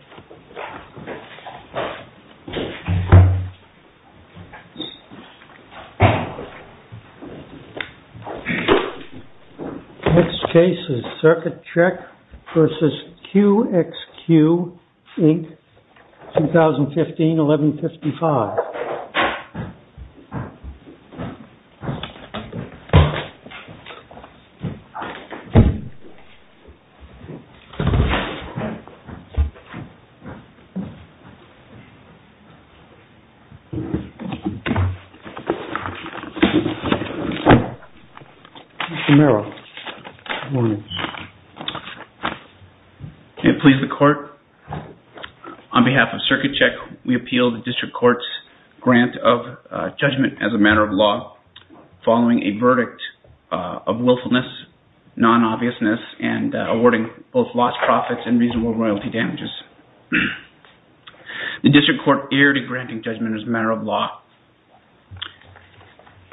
Next case is Circuit Check v. QXQ Inc. 2015-1155. Mr. Merrill, good morning, sir. May it please the Court, on behalf of Circuit Check, we appeal the District Court's grant of judgment as a matter of law, following a verdict of willfulness, non-obviousness, and awarding both lost profits and reasonable royalty damages. The District Court erred in granting judgment as a matter of law.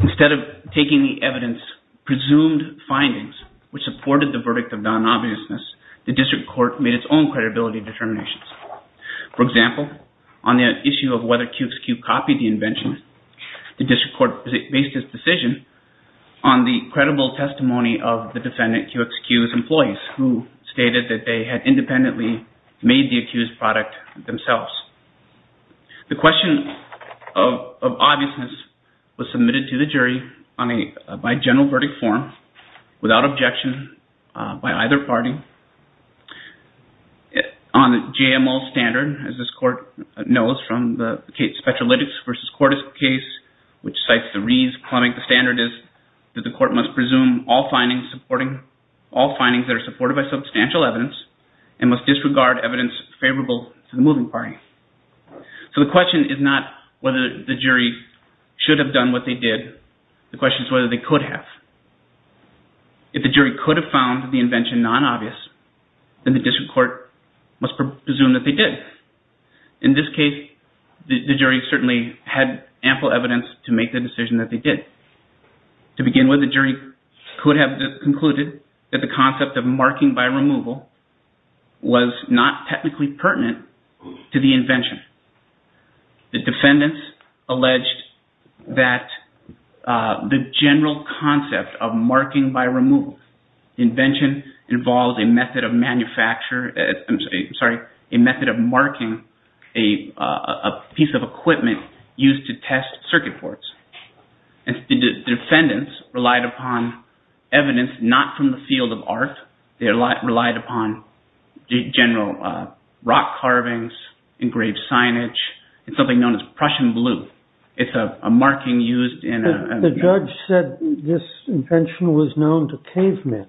Instead of taking the evidence-presumed findings which supported the verdict of non-obviousness, the District Court made its own credibility determinations. For example, on the issue of whether QXQ copied the invention, the District Court based its decision on the credible testimony of the defendant QXQ's employees who stated that they had independently made the accused product themselves. The question of obviousness was submitted to the jury by general verdict form, without objection by either party. On the JMO standard, as this Court knows from the Spectralytics v. Cordis case, which cites the Reed's plumbing, the standard is that the Court must presume all findings that are supported by substantial evidence and must disregard evidence favorable to the moving party. So the question is not whether the jury should have done what they did. The question is whether they could have. If the jury could have found the invention non-obvious, then the District Court must presume that they did. In this case, the jury certainly had ample evidence to make the decision that they did. To begin with, the jury could have concluded that the concept of marking by removal was not technically pertinent to the invention. The defendants alleged that the general concept of marking by removal invention involves a method of marking a piece of equipment used to test circuit boards. The defendants relied upon evidence not from the field of art. They relied upon general rock carvings, engraved signage, and something known as Prussian blue. It's a marking used in a... The judge said this invention was known to cavemen.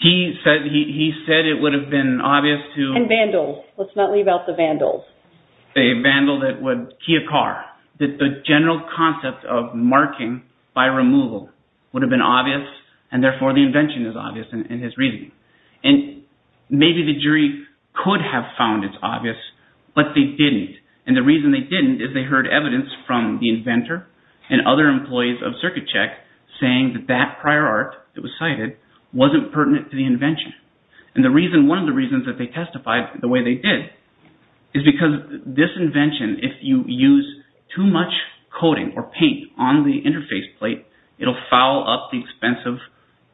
He said it would have been obvious to... And vandals. Let's not leave out the vandals. A vandal that would key a car. That the general concept of marking by removal would have been obvious, and therefore the invention is obvious in his reasoning. And maybe the jury could have found it obvious, but they didn't. And the reason they didn't is they heard evidence from the inventor and other employees of CircuitCheck saying that that prior art that was cited wasn't pertinent to the invention. And one of the reasons that they testified the way they did is because this invention, if you use too much coating or paint on the interface plate, it'll foul up the expensive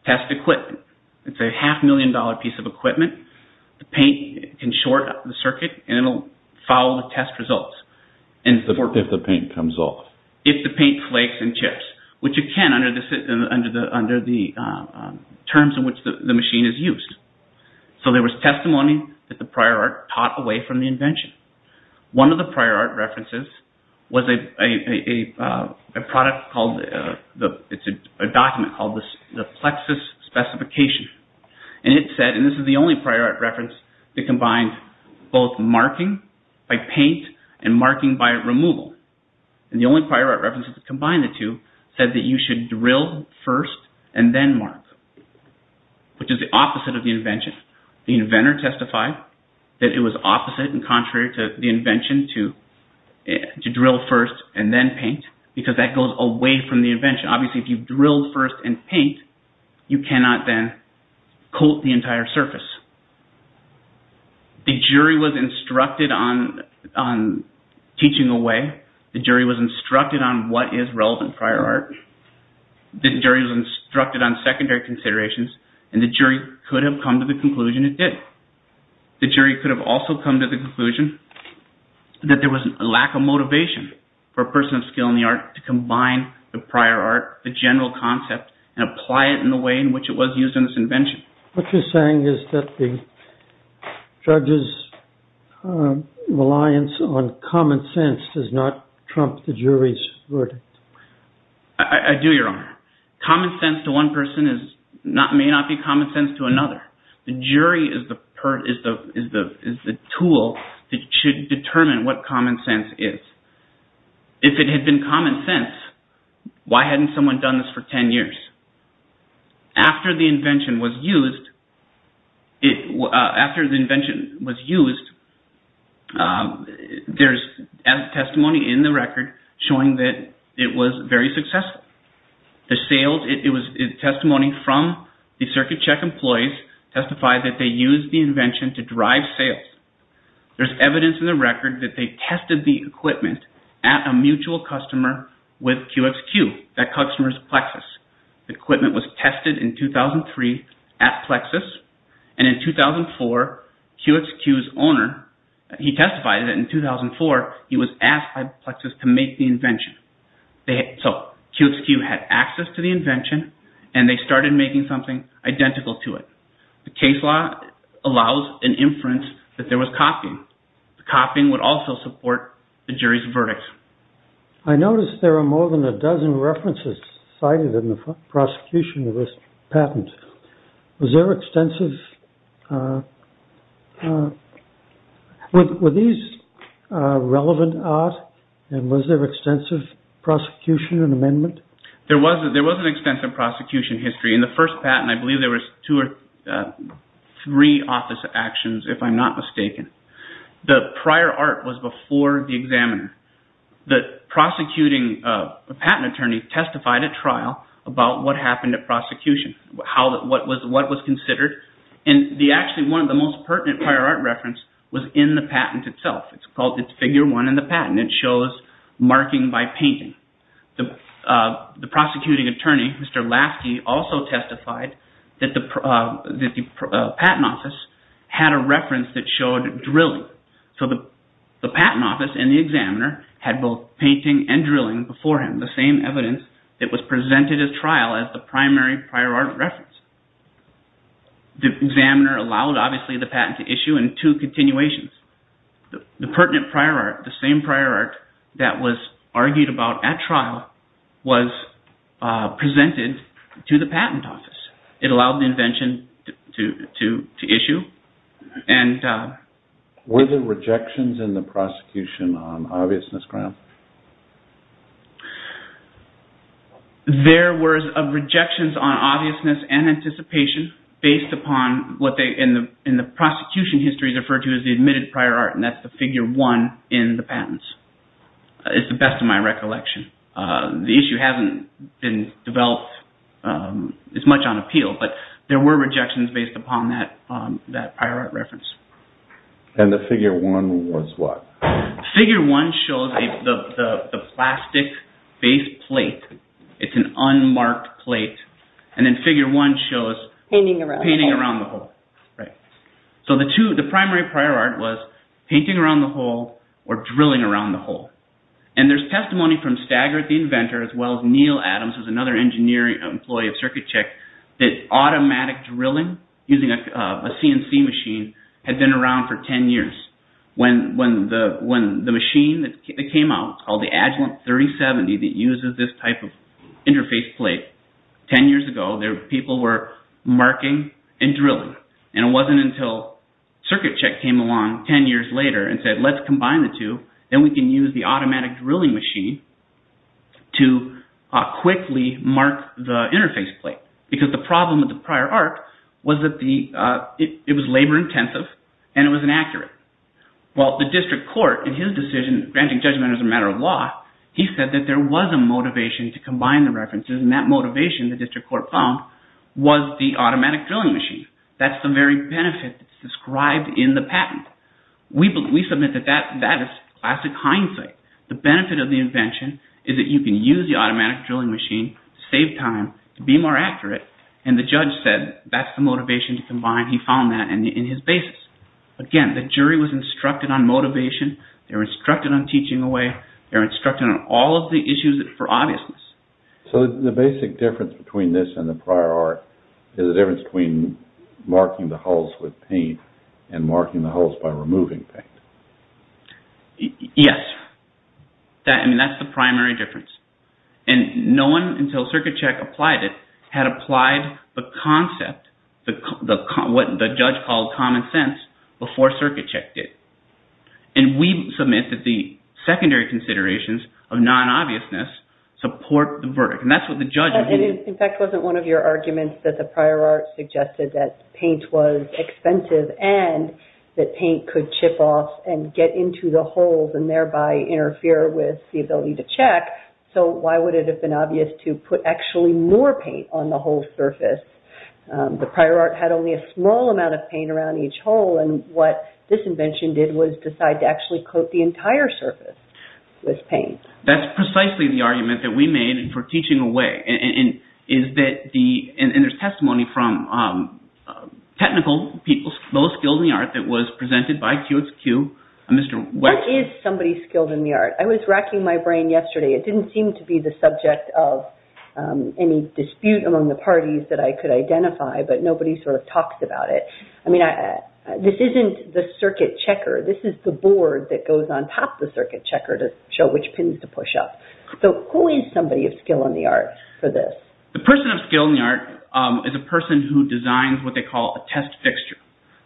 test equipment. It's a half million dollar piece of equipment. The paint can short the circuit and it'll foul the test results. If the paint comes off. If the paint flakes and chips, which it can under the terms in which the machine is used. So there was testimony that the prior art taught away from the invention. One of the prior art references was a document called the Plexus Specification. And it said, and this is the only prior art reference that combined both marking by paint and marking by removal. And the only prior art reference that combined the two said that you should drill first and then mark, which is the opposite of the invention. The inventor testified that it was opposite and contrary to the invention to drill first and then paint because that goes away from the invention. Obviously, if you drill first and paint, you cannot then coat the entire surface. The jury was instructed on teaching away. The jury was instructed on what is relevant prior art. The jury was instructed on secondary considerations and the jury could have come to the conclusion it did. The jury could have also come to the conclusion that there was a lack of motivation for a person of skill in the art to combine the prior art, the general concept and apply it in the way in which it was used in this invention. What you're saying is that the judge's reliance on common sense does not trump the jury's verdict. I do, Your Honor. Common sense to one person may not be common sense to another. The jury is the tool that should determine what common sense is. If it had been common sense, why hadn't someone done this for 10 years? After the invention was used, there's testimony in the record showing that it was very successful. The testimony from the circuit check employees testified that they used the invention to drive sales. There's evidence in the record that they tested the equipment at a mutual customer with QXQ, that customer's Plexus. The equipment was tested in 2003 at Plexus and in 2004 QXQ's owner, he testified that in 2004 he was asked by Plexus to make the invention. So QXQ had access to the invention and they started making something identical to it. The case law allows an inference that there was copying. Copying would also support the jury's verdict. I notice there are more than a dozen references cited in the prosecution of this patent. Was there extensive... Were these relevant art and was there extensive prosecution and amendment? There was an extensive prosecution history. In the first patent, I believe there were two or three office actions, if I'm not mistaken. The prior art was before the examiner. The prosecuting patent attorney testified at trial about what happened at prosecution, what was considered. Actually, one of the most pertinent prior art reference was in the patent itself. It's called Figure 1 in the patent. It shows marking by painting. The prosecuting attorney, Mr. Lasky, also testified that the patent office had a reference that showed drilling. So the patent office and the examiner had both painting and drilling before him, the same evidence that was presented at trial as the primary prior art reference. The examiner allowed, obviously, the patent to issue in two continuations. The pertinent prior art, the same prior art that was argued about at trial, was presented to the patent office. It allowed the invention to issue Were there rejections in the prosecution on obviousness grounds? There were rejections on obviousness and anticipation based upon what in the prosecution history is referred to as the admitted prior art, and that's the Figure 1 in the patents, is the best of my recollection. The issue hasn't been developed as much on appeal, but there were rejections based upon that prior art reference. And the Figure 1 was what? Figure 1 shows the plastic-based plate. It's an unmarked plate. And then Figure 1 shows painting around the hole. So the primary prior art was painting around the hole or drilling around the hole. And there's testimony from Stagger, the inventor, as well as Neil Adams, who's another engineer and employee of CircuitCheck, that automatic drilling using a CNC machine had been around for 10 years. When the machine that came out, called the Agilent 3070 that uses this type of interface plate, 10 years ago, people were marking and drilling. And it wasn't until CircuitCheck came along 10 years later and said, let's combine the two, then we can use the automatic drilling machine to quickly mark the interface plate. Because the problem with the prior art was that it was labor-intensive and it was inaccurate. Well, the district court, in his decision, granting judgment as a matter of law, he said that there was a motivation to combine the references, and that motivation, the district court found, was the automatic drilling machine. That's the very benefit that's described in the patent. We submit that that is classic hindsight. The benefit of the invention is that you can use the automatic drilling machine, save time, be more accurate, and the judge said that's the motivation to combine. He found that in his basis. Again, the jury was instructed on motivation, they were instructed on teaching away, they were instructed on all of the issues for obviousness. So the basic difference between this and the prior art is the difference between marking the holes with paint and marking the holes by removing paint. Yes. I mean, that's the primary difference. And no one, until CircuitCheck applied it, had applied the concept, what the judge called common sense, before CircuitCheck did. And we submit that the secondary considerations of non-obviousness support the verdict. And that's what the judge... In fact, wasn't one of your arguments that the prior art suggested that paint was expensive and that paint could chip off and get into the holes and thereby interfere with the ability to check, so why would it have been obvious to put actually more paint on the whole surface? The prior art had only a small amount of paint around each hole, and what this invention did was decide to actually coat the entire surface with paint. That's precisely the argument that we made for teaching away, and there's testimony from technical people, both skilled in the art, that was presented by QXQ... What is somebody skilled in the art? I was racking my brain yesterday. It didn't seem to be the subject of any dispute among the parties that I could identify, but nobody sort of talks about it. I mean, this isn't the circuit checker. This is the board that goes on top the circuit checker to show which pins to push up. So, who is somebody of skill in the art for this? The person of skill in the art is a person who designs what they call a test fixture.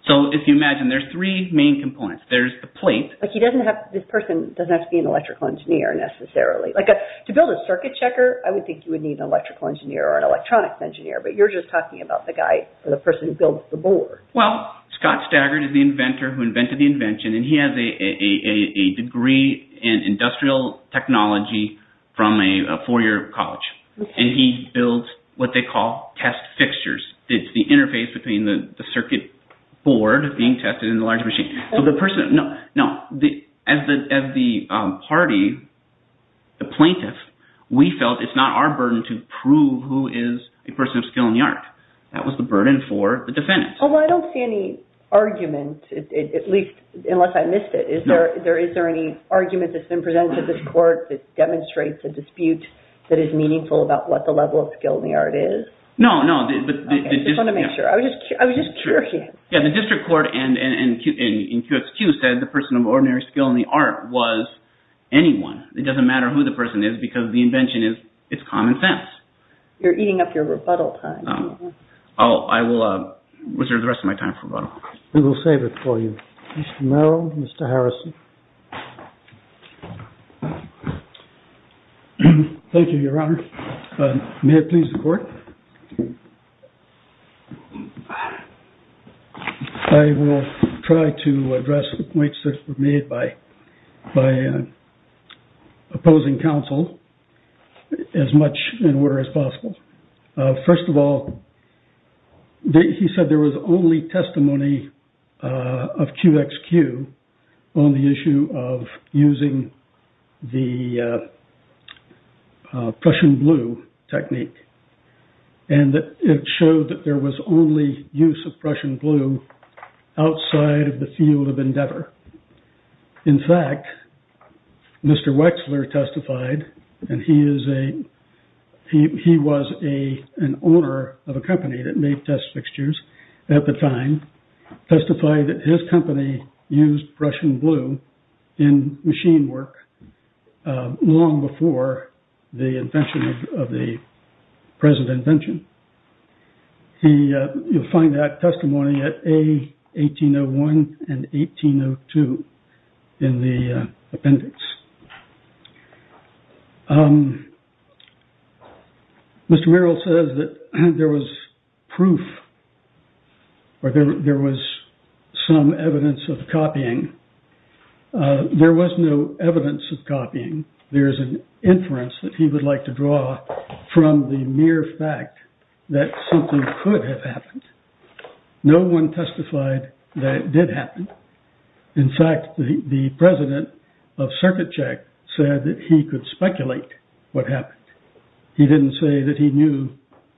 So, if you imagine, there's three main components. There's the plate... But he doesn't have... This person doesn't have to be an electrical engineer necessarily. Like, to build a circuit checker, I would think you would need an electrical engineer or an electronics engineer, but you're just talking about the guy or the person who builds the board. Well, Scott Staggert is the inventor who invented the invention, and he has a degree in industrial technology from a four-year college, and he builds what they call test fixtures. It's the interface between the circuit board being tested and the large machine. So, the person... No, as the party, the plaintiff, we felt it's not our burden to prove who is a person of skill in the art. That was the burden for the defendant. Well, I don't see any argument, at least unless I missed it. Is there any argument that's been presented to this court that demonstrates a dispute that is meaningful about what the level of skill in the art is? No, no. I just want to make sure. I was just curious. Yeah, the district court in QXQ said the person of ordinary skill in the art was anyone. It doesn't matter who the person is because the invention is common sense. You're eating up your rebuttal time. Oh, I will reserve the rest of my time for rebuttal. We will save it for you. Mr. Merrill, Mr. Harrison. Thank you, Your Honor. May it please the court. I will try to address the points that were made by opposing counsel as much in order as possible. First of all, he said there was only testimony of QXQ on the issue of using the Prussian blue technique and it showed that there was only use of Prussian blue outside of the field of endeavor. In fact, Mr. Wexler testified and he was an owner of a company that made test fixtures at the time, testified that his company used Prussian blue in machine work long before the invention of the present invention. You'll find that testimony at A1801 and 1802 in the appendix. Mr. Merrill says that there was proof or there was some evidence of copying There was no evidence of copying. There is an inference that he would like to draw from the mere fact that something could have happened. No one testified that it did happen. In fact, the president of CircuitCheck said that he could speculate what happened. He didn't say that he knew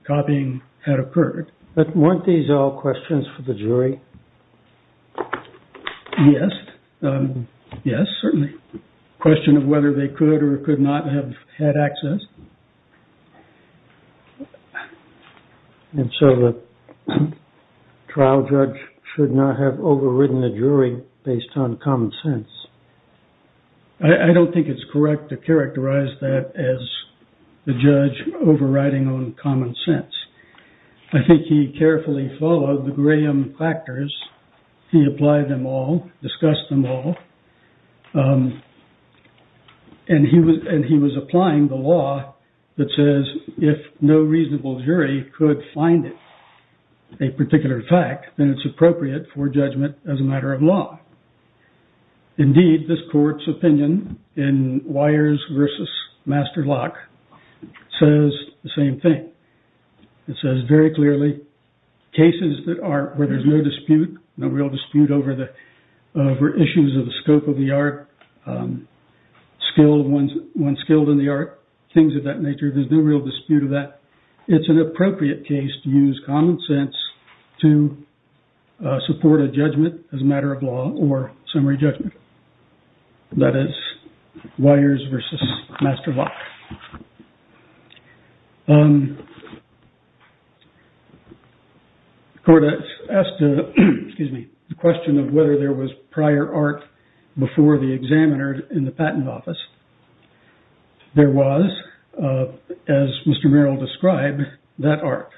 copying had occurred. But weren't these all questions for the jury? Yes. Yes, certainly. A question of whether they could or could not have had access. And so the trial judge should not have overridden the jury based on common sense. I don't think it's correct to characterize that as the judge overriding on common sense. I think he carefully followed the Graham factors. He applied them all, discussed them all. And he was applying the law that says if no reasonable jury could find it a particular fact then it's appropriate for judgment as a matter of law. Indeed, this court's opinion in Weyers versus Masterlock says the same thing. It says very clearly cases where there's no dispute no real dispute over issues of the scope of the art one's skilled in the art things of that nature, there's no real dispute of that it's an appropriate case to use common sense to support a judgment as a matter of law or summary judgment. That is, Weyers versus Masterlock. Um the court asked to excuse me the question of whether there was prior art before the examiner in the patent office there was as Mr. Merrill described that art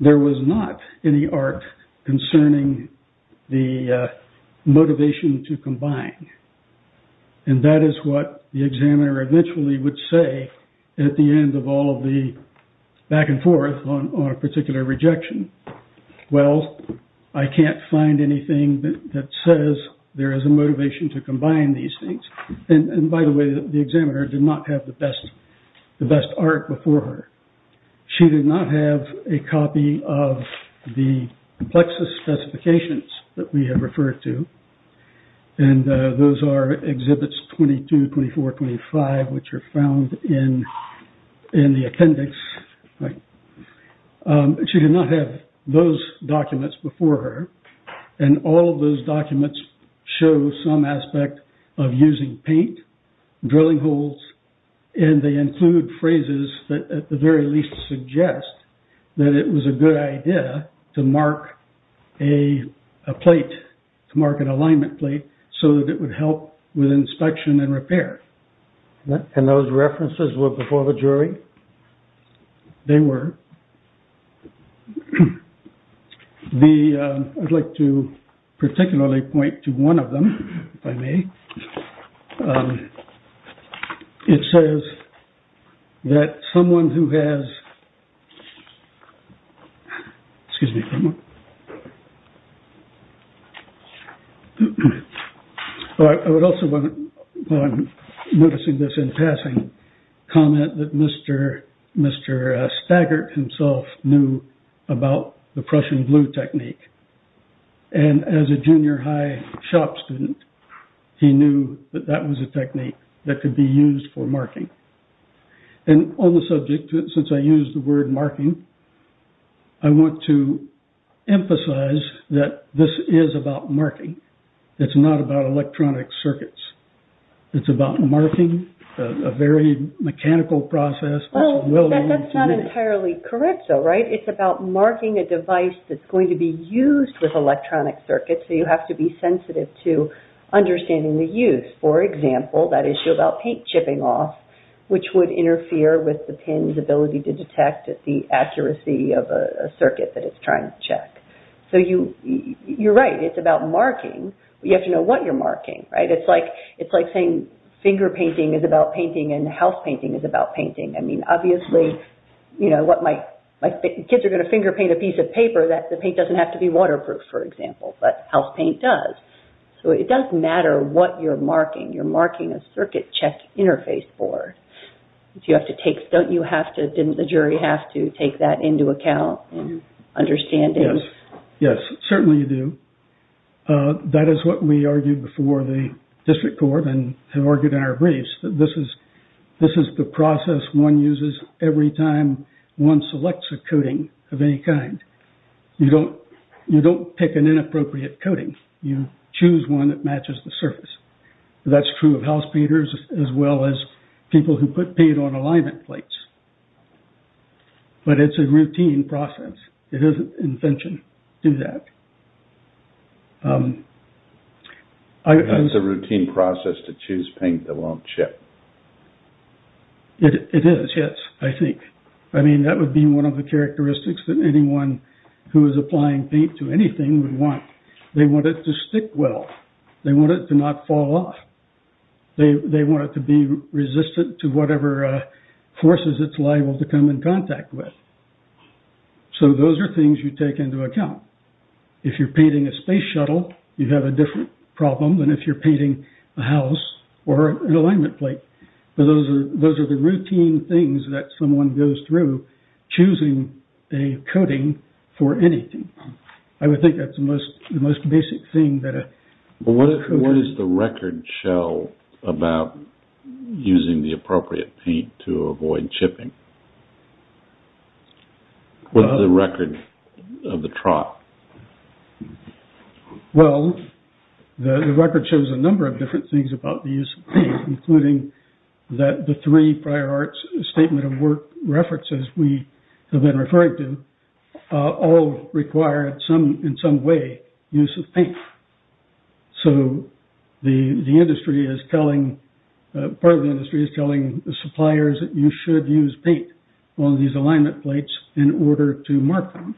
there was not any art concerning the motivation to combine and that is what the examiner eventually would say at the end of all the back and forth on a particular rejection well I can't find anything that says there is a motivation to combine these things and by the way the examiner did not have the best the best art before her she did not have a copy of the plexus specifications that we have referred to and those are exhibits 22, 24, 25 which are found in in the appendix she did not have those documents before her and all those documents show some aspect of using paint drilling holes and they include phrases that at the very least suggest that it was a good idea to mark a a plate to mark an alignment plate so that it would help with inspection and repair and those references were before the jury? they were the I would like to particularly point to one of them if I may it says that someone who has excuse me I would also want to while I'm noticing this in passing comment that Mr. Mr. Staggart himself knew about the Prussian blue technique and as a junior high shop student he knew that that was a technique that could be used for marking and on the subject since I used the word marking I want to emphasize that this is about marking it's not about electronic circuits it's about marking a very mechanical process that's not entirely correct though, right? it's about marking a device that's going to be used with electronic circuits so you have to be sensitive to understanding the use for example that issue about paint chipping off which would interfere with the pin's ability to detect the accuracy of a circuit that it's trying to check so you're right it's about marking but you have to know what you're marking it's like saying finger painting is about painting and house painting is about painting I mean obviously you know, what my my kids are going to finger paint a piece of paper the paint doesn't have to be waterproof for example but house paint does so it does matter what you're marking you're marking a circuit check interface board you have to take don't you have to didn't the jury have to take that into account in understanding yes certainly you do that is what we argued before the district court and argued in our briefs that this is this is the process one uses every time one selects a coating of any kind you don't you don't pick an inappropriate coating you choose one that matches the surface that's true of house painters as well as people who put paint on alignment plates but it's a routine process it is an invention to do that it's a routine process to choose paint that won't chip it is, yes I think I mean that would be one of the characteristics that anyone who is applying paint to anything would want they want it to stick well they want it to not fall off they want it to be resistant to whatever forces it's liable to come in contact with so those are things you take into account if you're painting a space shuttle you have a different problem than if you're painting a house or an alignment plate those are those are the routine things that someone goes through choosing a coating for anything I would think that's the most the most basic thing that what is the record show about using the appropriate paint to avoid chipping what is the record of the trot well the record shows a number of different things about the use of paint including that the three prior arts statement of work references we have been referring to all require in some way use of paint so the industry is telling part of the industry is telling the suppliers that you should use paint on these alignment plates in order to mark them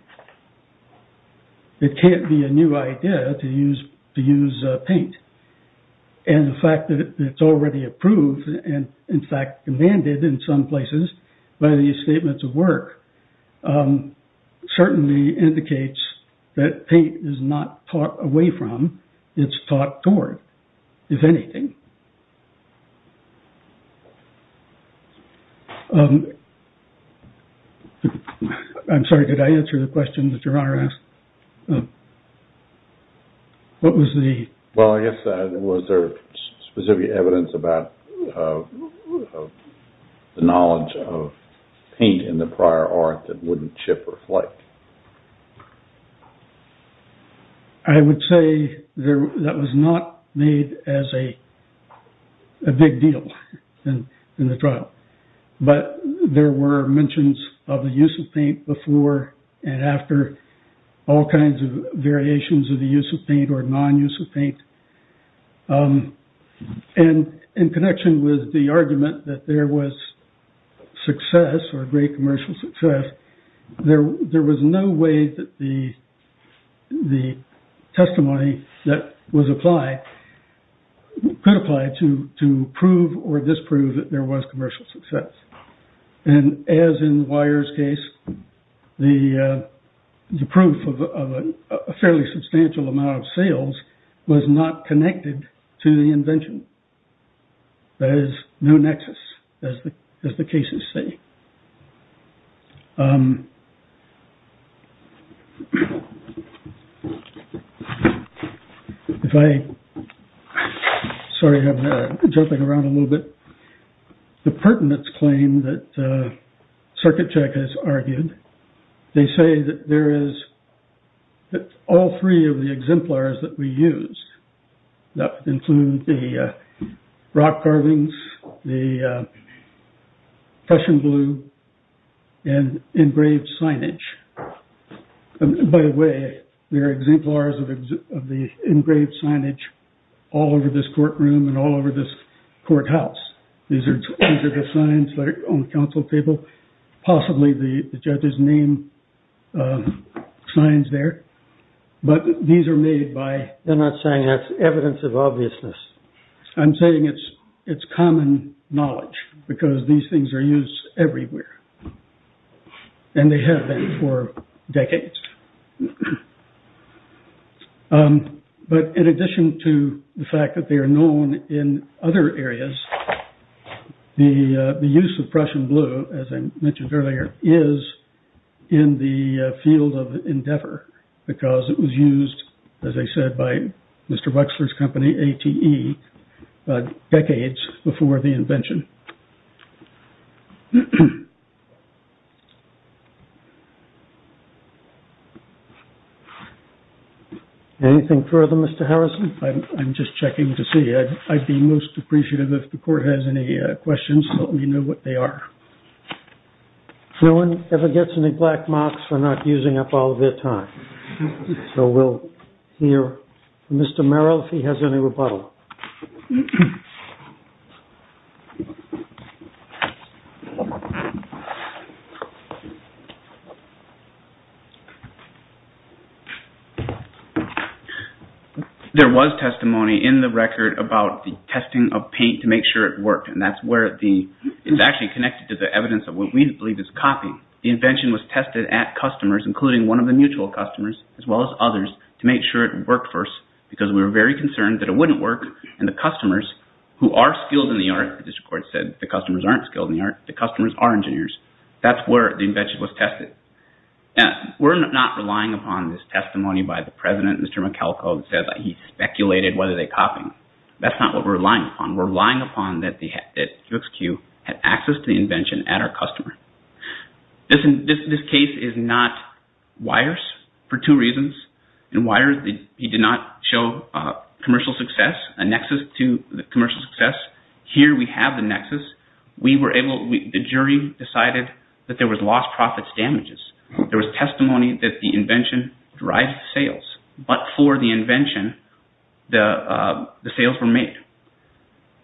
it can't be a new idea to use to use paint and the fact that it's already approved and in fact demanded in some places by these statements of work certainly indicates that paint is not taught away from it's taught toward if anything I'm sorry did I answer the question that your honor asked what was the well I guess was there specific evidence about the knowledge of paint in the prior art that wouldn't chip or flake I would say that was not made as a big deal in the trial but there were mentions of the use of paint before and after all kinds of variations of the use of paint or non-use of paint and in connection with the argument that there was success or great commercial success there was no way that the testimony that was applied could apply to prove or disprove that there was commercial success and as in Weyer's case the proof of a fairly substantial amount of sales was not connected to the invention there is no nexus as the cases say if I sorry I'm jumping around a little bit the pertinence claim that Circuit Check has argued they say that there is that all three of the exemplars that we used that include the rock carvings the Prussian blue and engraved signage by the way there are exemplars of the engraved signage all over this courtroom and all over this courthouse these are the signs on the council table possibly the judges name signs there but these are made by they're not saying that's evidence of obviousness I'm saying it's common knowledge because these things are used everywhere and they have been for decades but in addition to the fact that they are known in other areas the use of Prussian blue as I mentioned earlier is in the field of endeavor because it was used as I said by Mr. Wexler's company ATE decades before the invention anything further Mr. Harrison I'm just checking to see I'd be most appreciative if the court has any questions let me know what they are no one ever gets any black marks for not using up all of their time so we'll hear Mr. Merrill if he has any rebuttal there was testimony in the record about the testing of paint to make sure it worked and that's where the it's actually connected to the evidence of what we believe is copy the invention was tested at customers including one of the mutual customers as well as others to make sure it worked first because we were very concerned that it wouldn't work and the customers who are skilled in the art the customers are engineers that's where the testimony by the president Mr. Michalko he speculated whether they copy that's not what we're relying upon we're relying upon that the QXQ had access to the invention at our customer this case is not wires for two reasons and wires he did not show commercial success a nexus to the commercial success here we have the nexus we were able the jury decided that there was lost profits damages there was testimony that the invention drives sales but for the invention the sales were made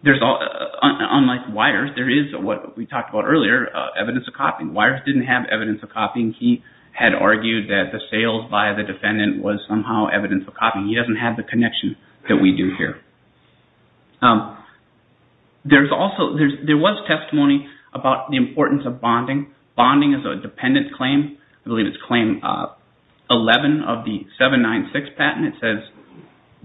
there's all unlike wires there is what we talked about earlier evidence of copying wires didn't have evidence of copying he had argued that the sales by the defendant was somehow evidence of copying he doesn't have the connection that we do here there's also there was testimony about the importance of bonding bonding is a dependent claim I believe it's claim 11 of the 796 patent it says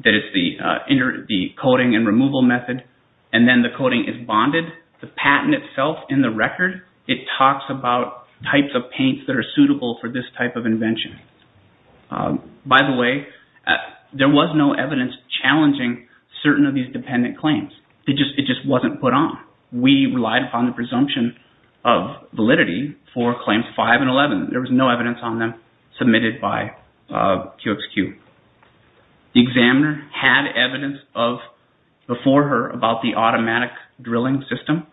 that it's the coding and removal method and then the coding is bonded the patent itself in the record it talks about types of paints that are suitable for this type of invention by the way there was no evidence challenging certain of these dependent claims it just wasn't put on we relied upon the presumption of validity for claims 5 and 11 there was no evidence on them submitted by QXQ the examiner had evidence of before her about the automatic drilling system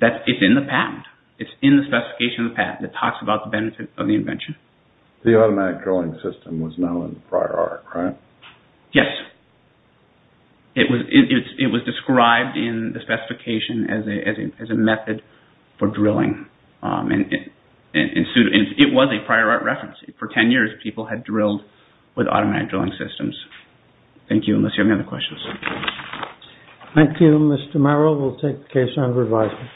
that it's in the patent it's in the specification of the patent it talks about the benefit of the invention the automatic drilling system was known prior art right? yes it was described in the specification as a method for drilling and it was a prior art reference for 10 years people had drilled with automatic drilling systems thank you unless you have any other questions thank you Mr. Merrill we'll take the case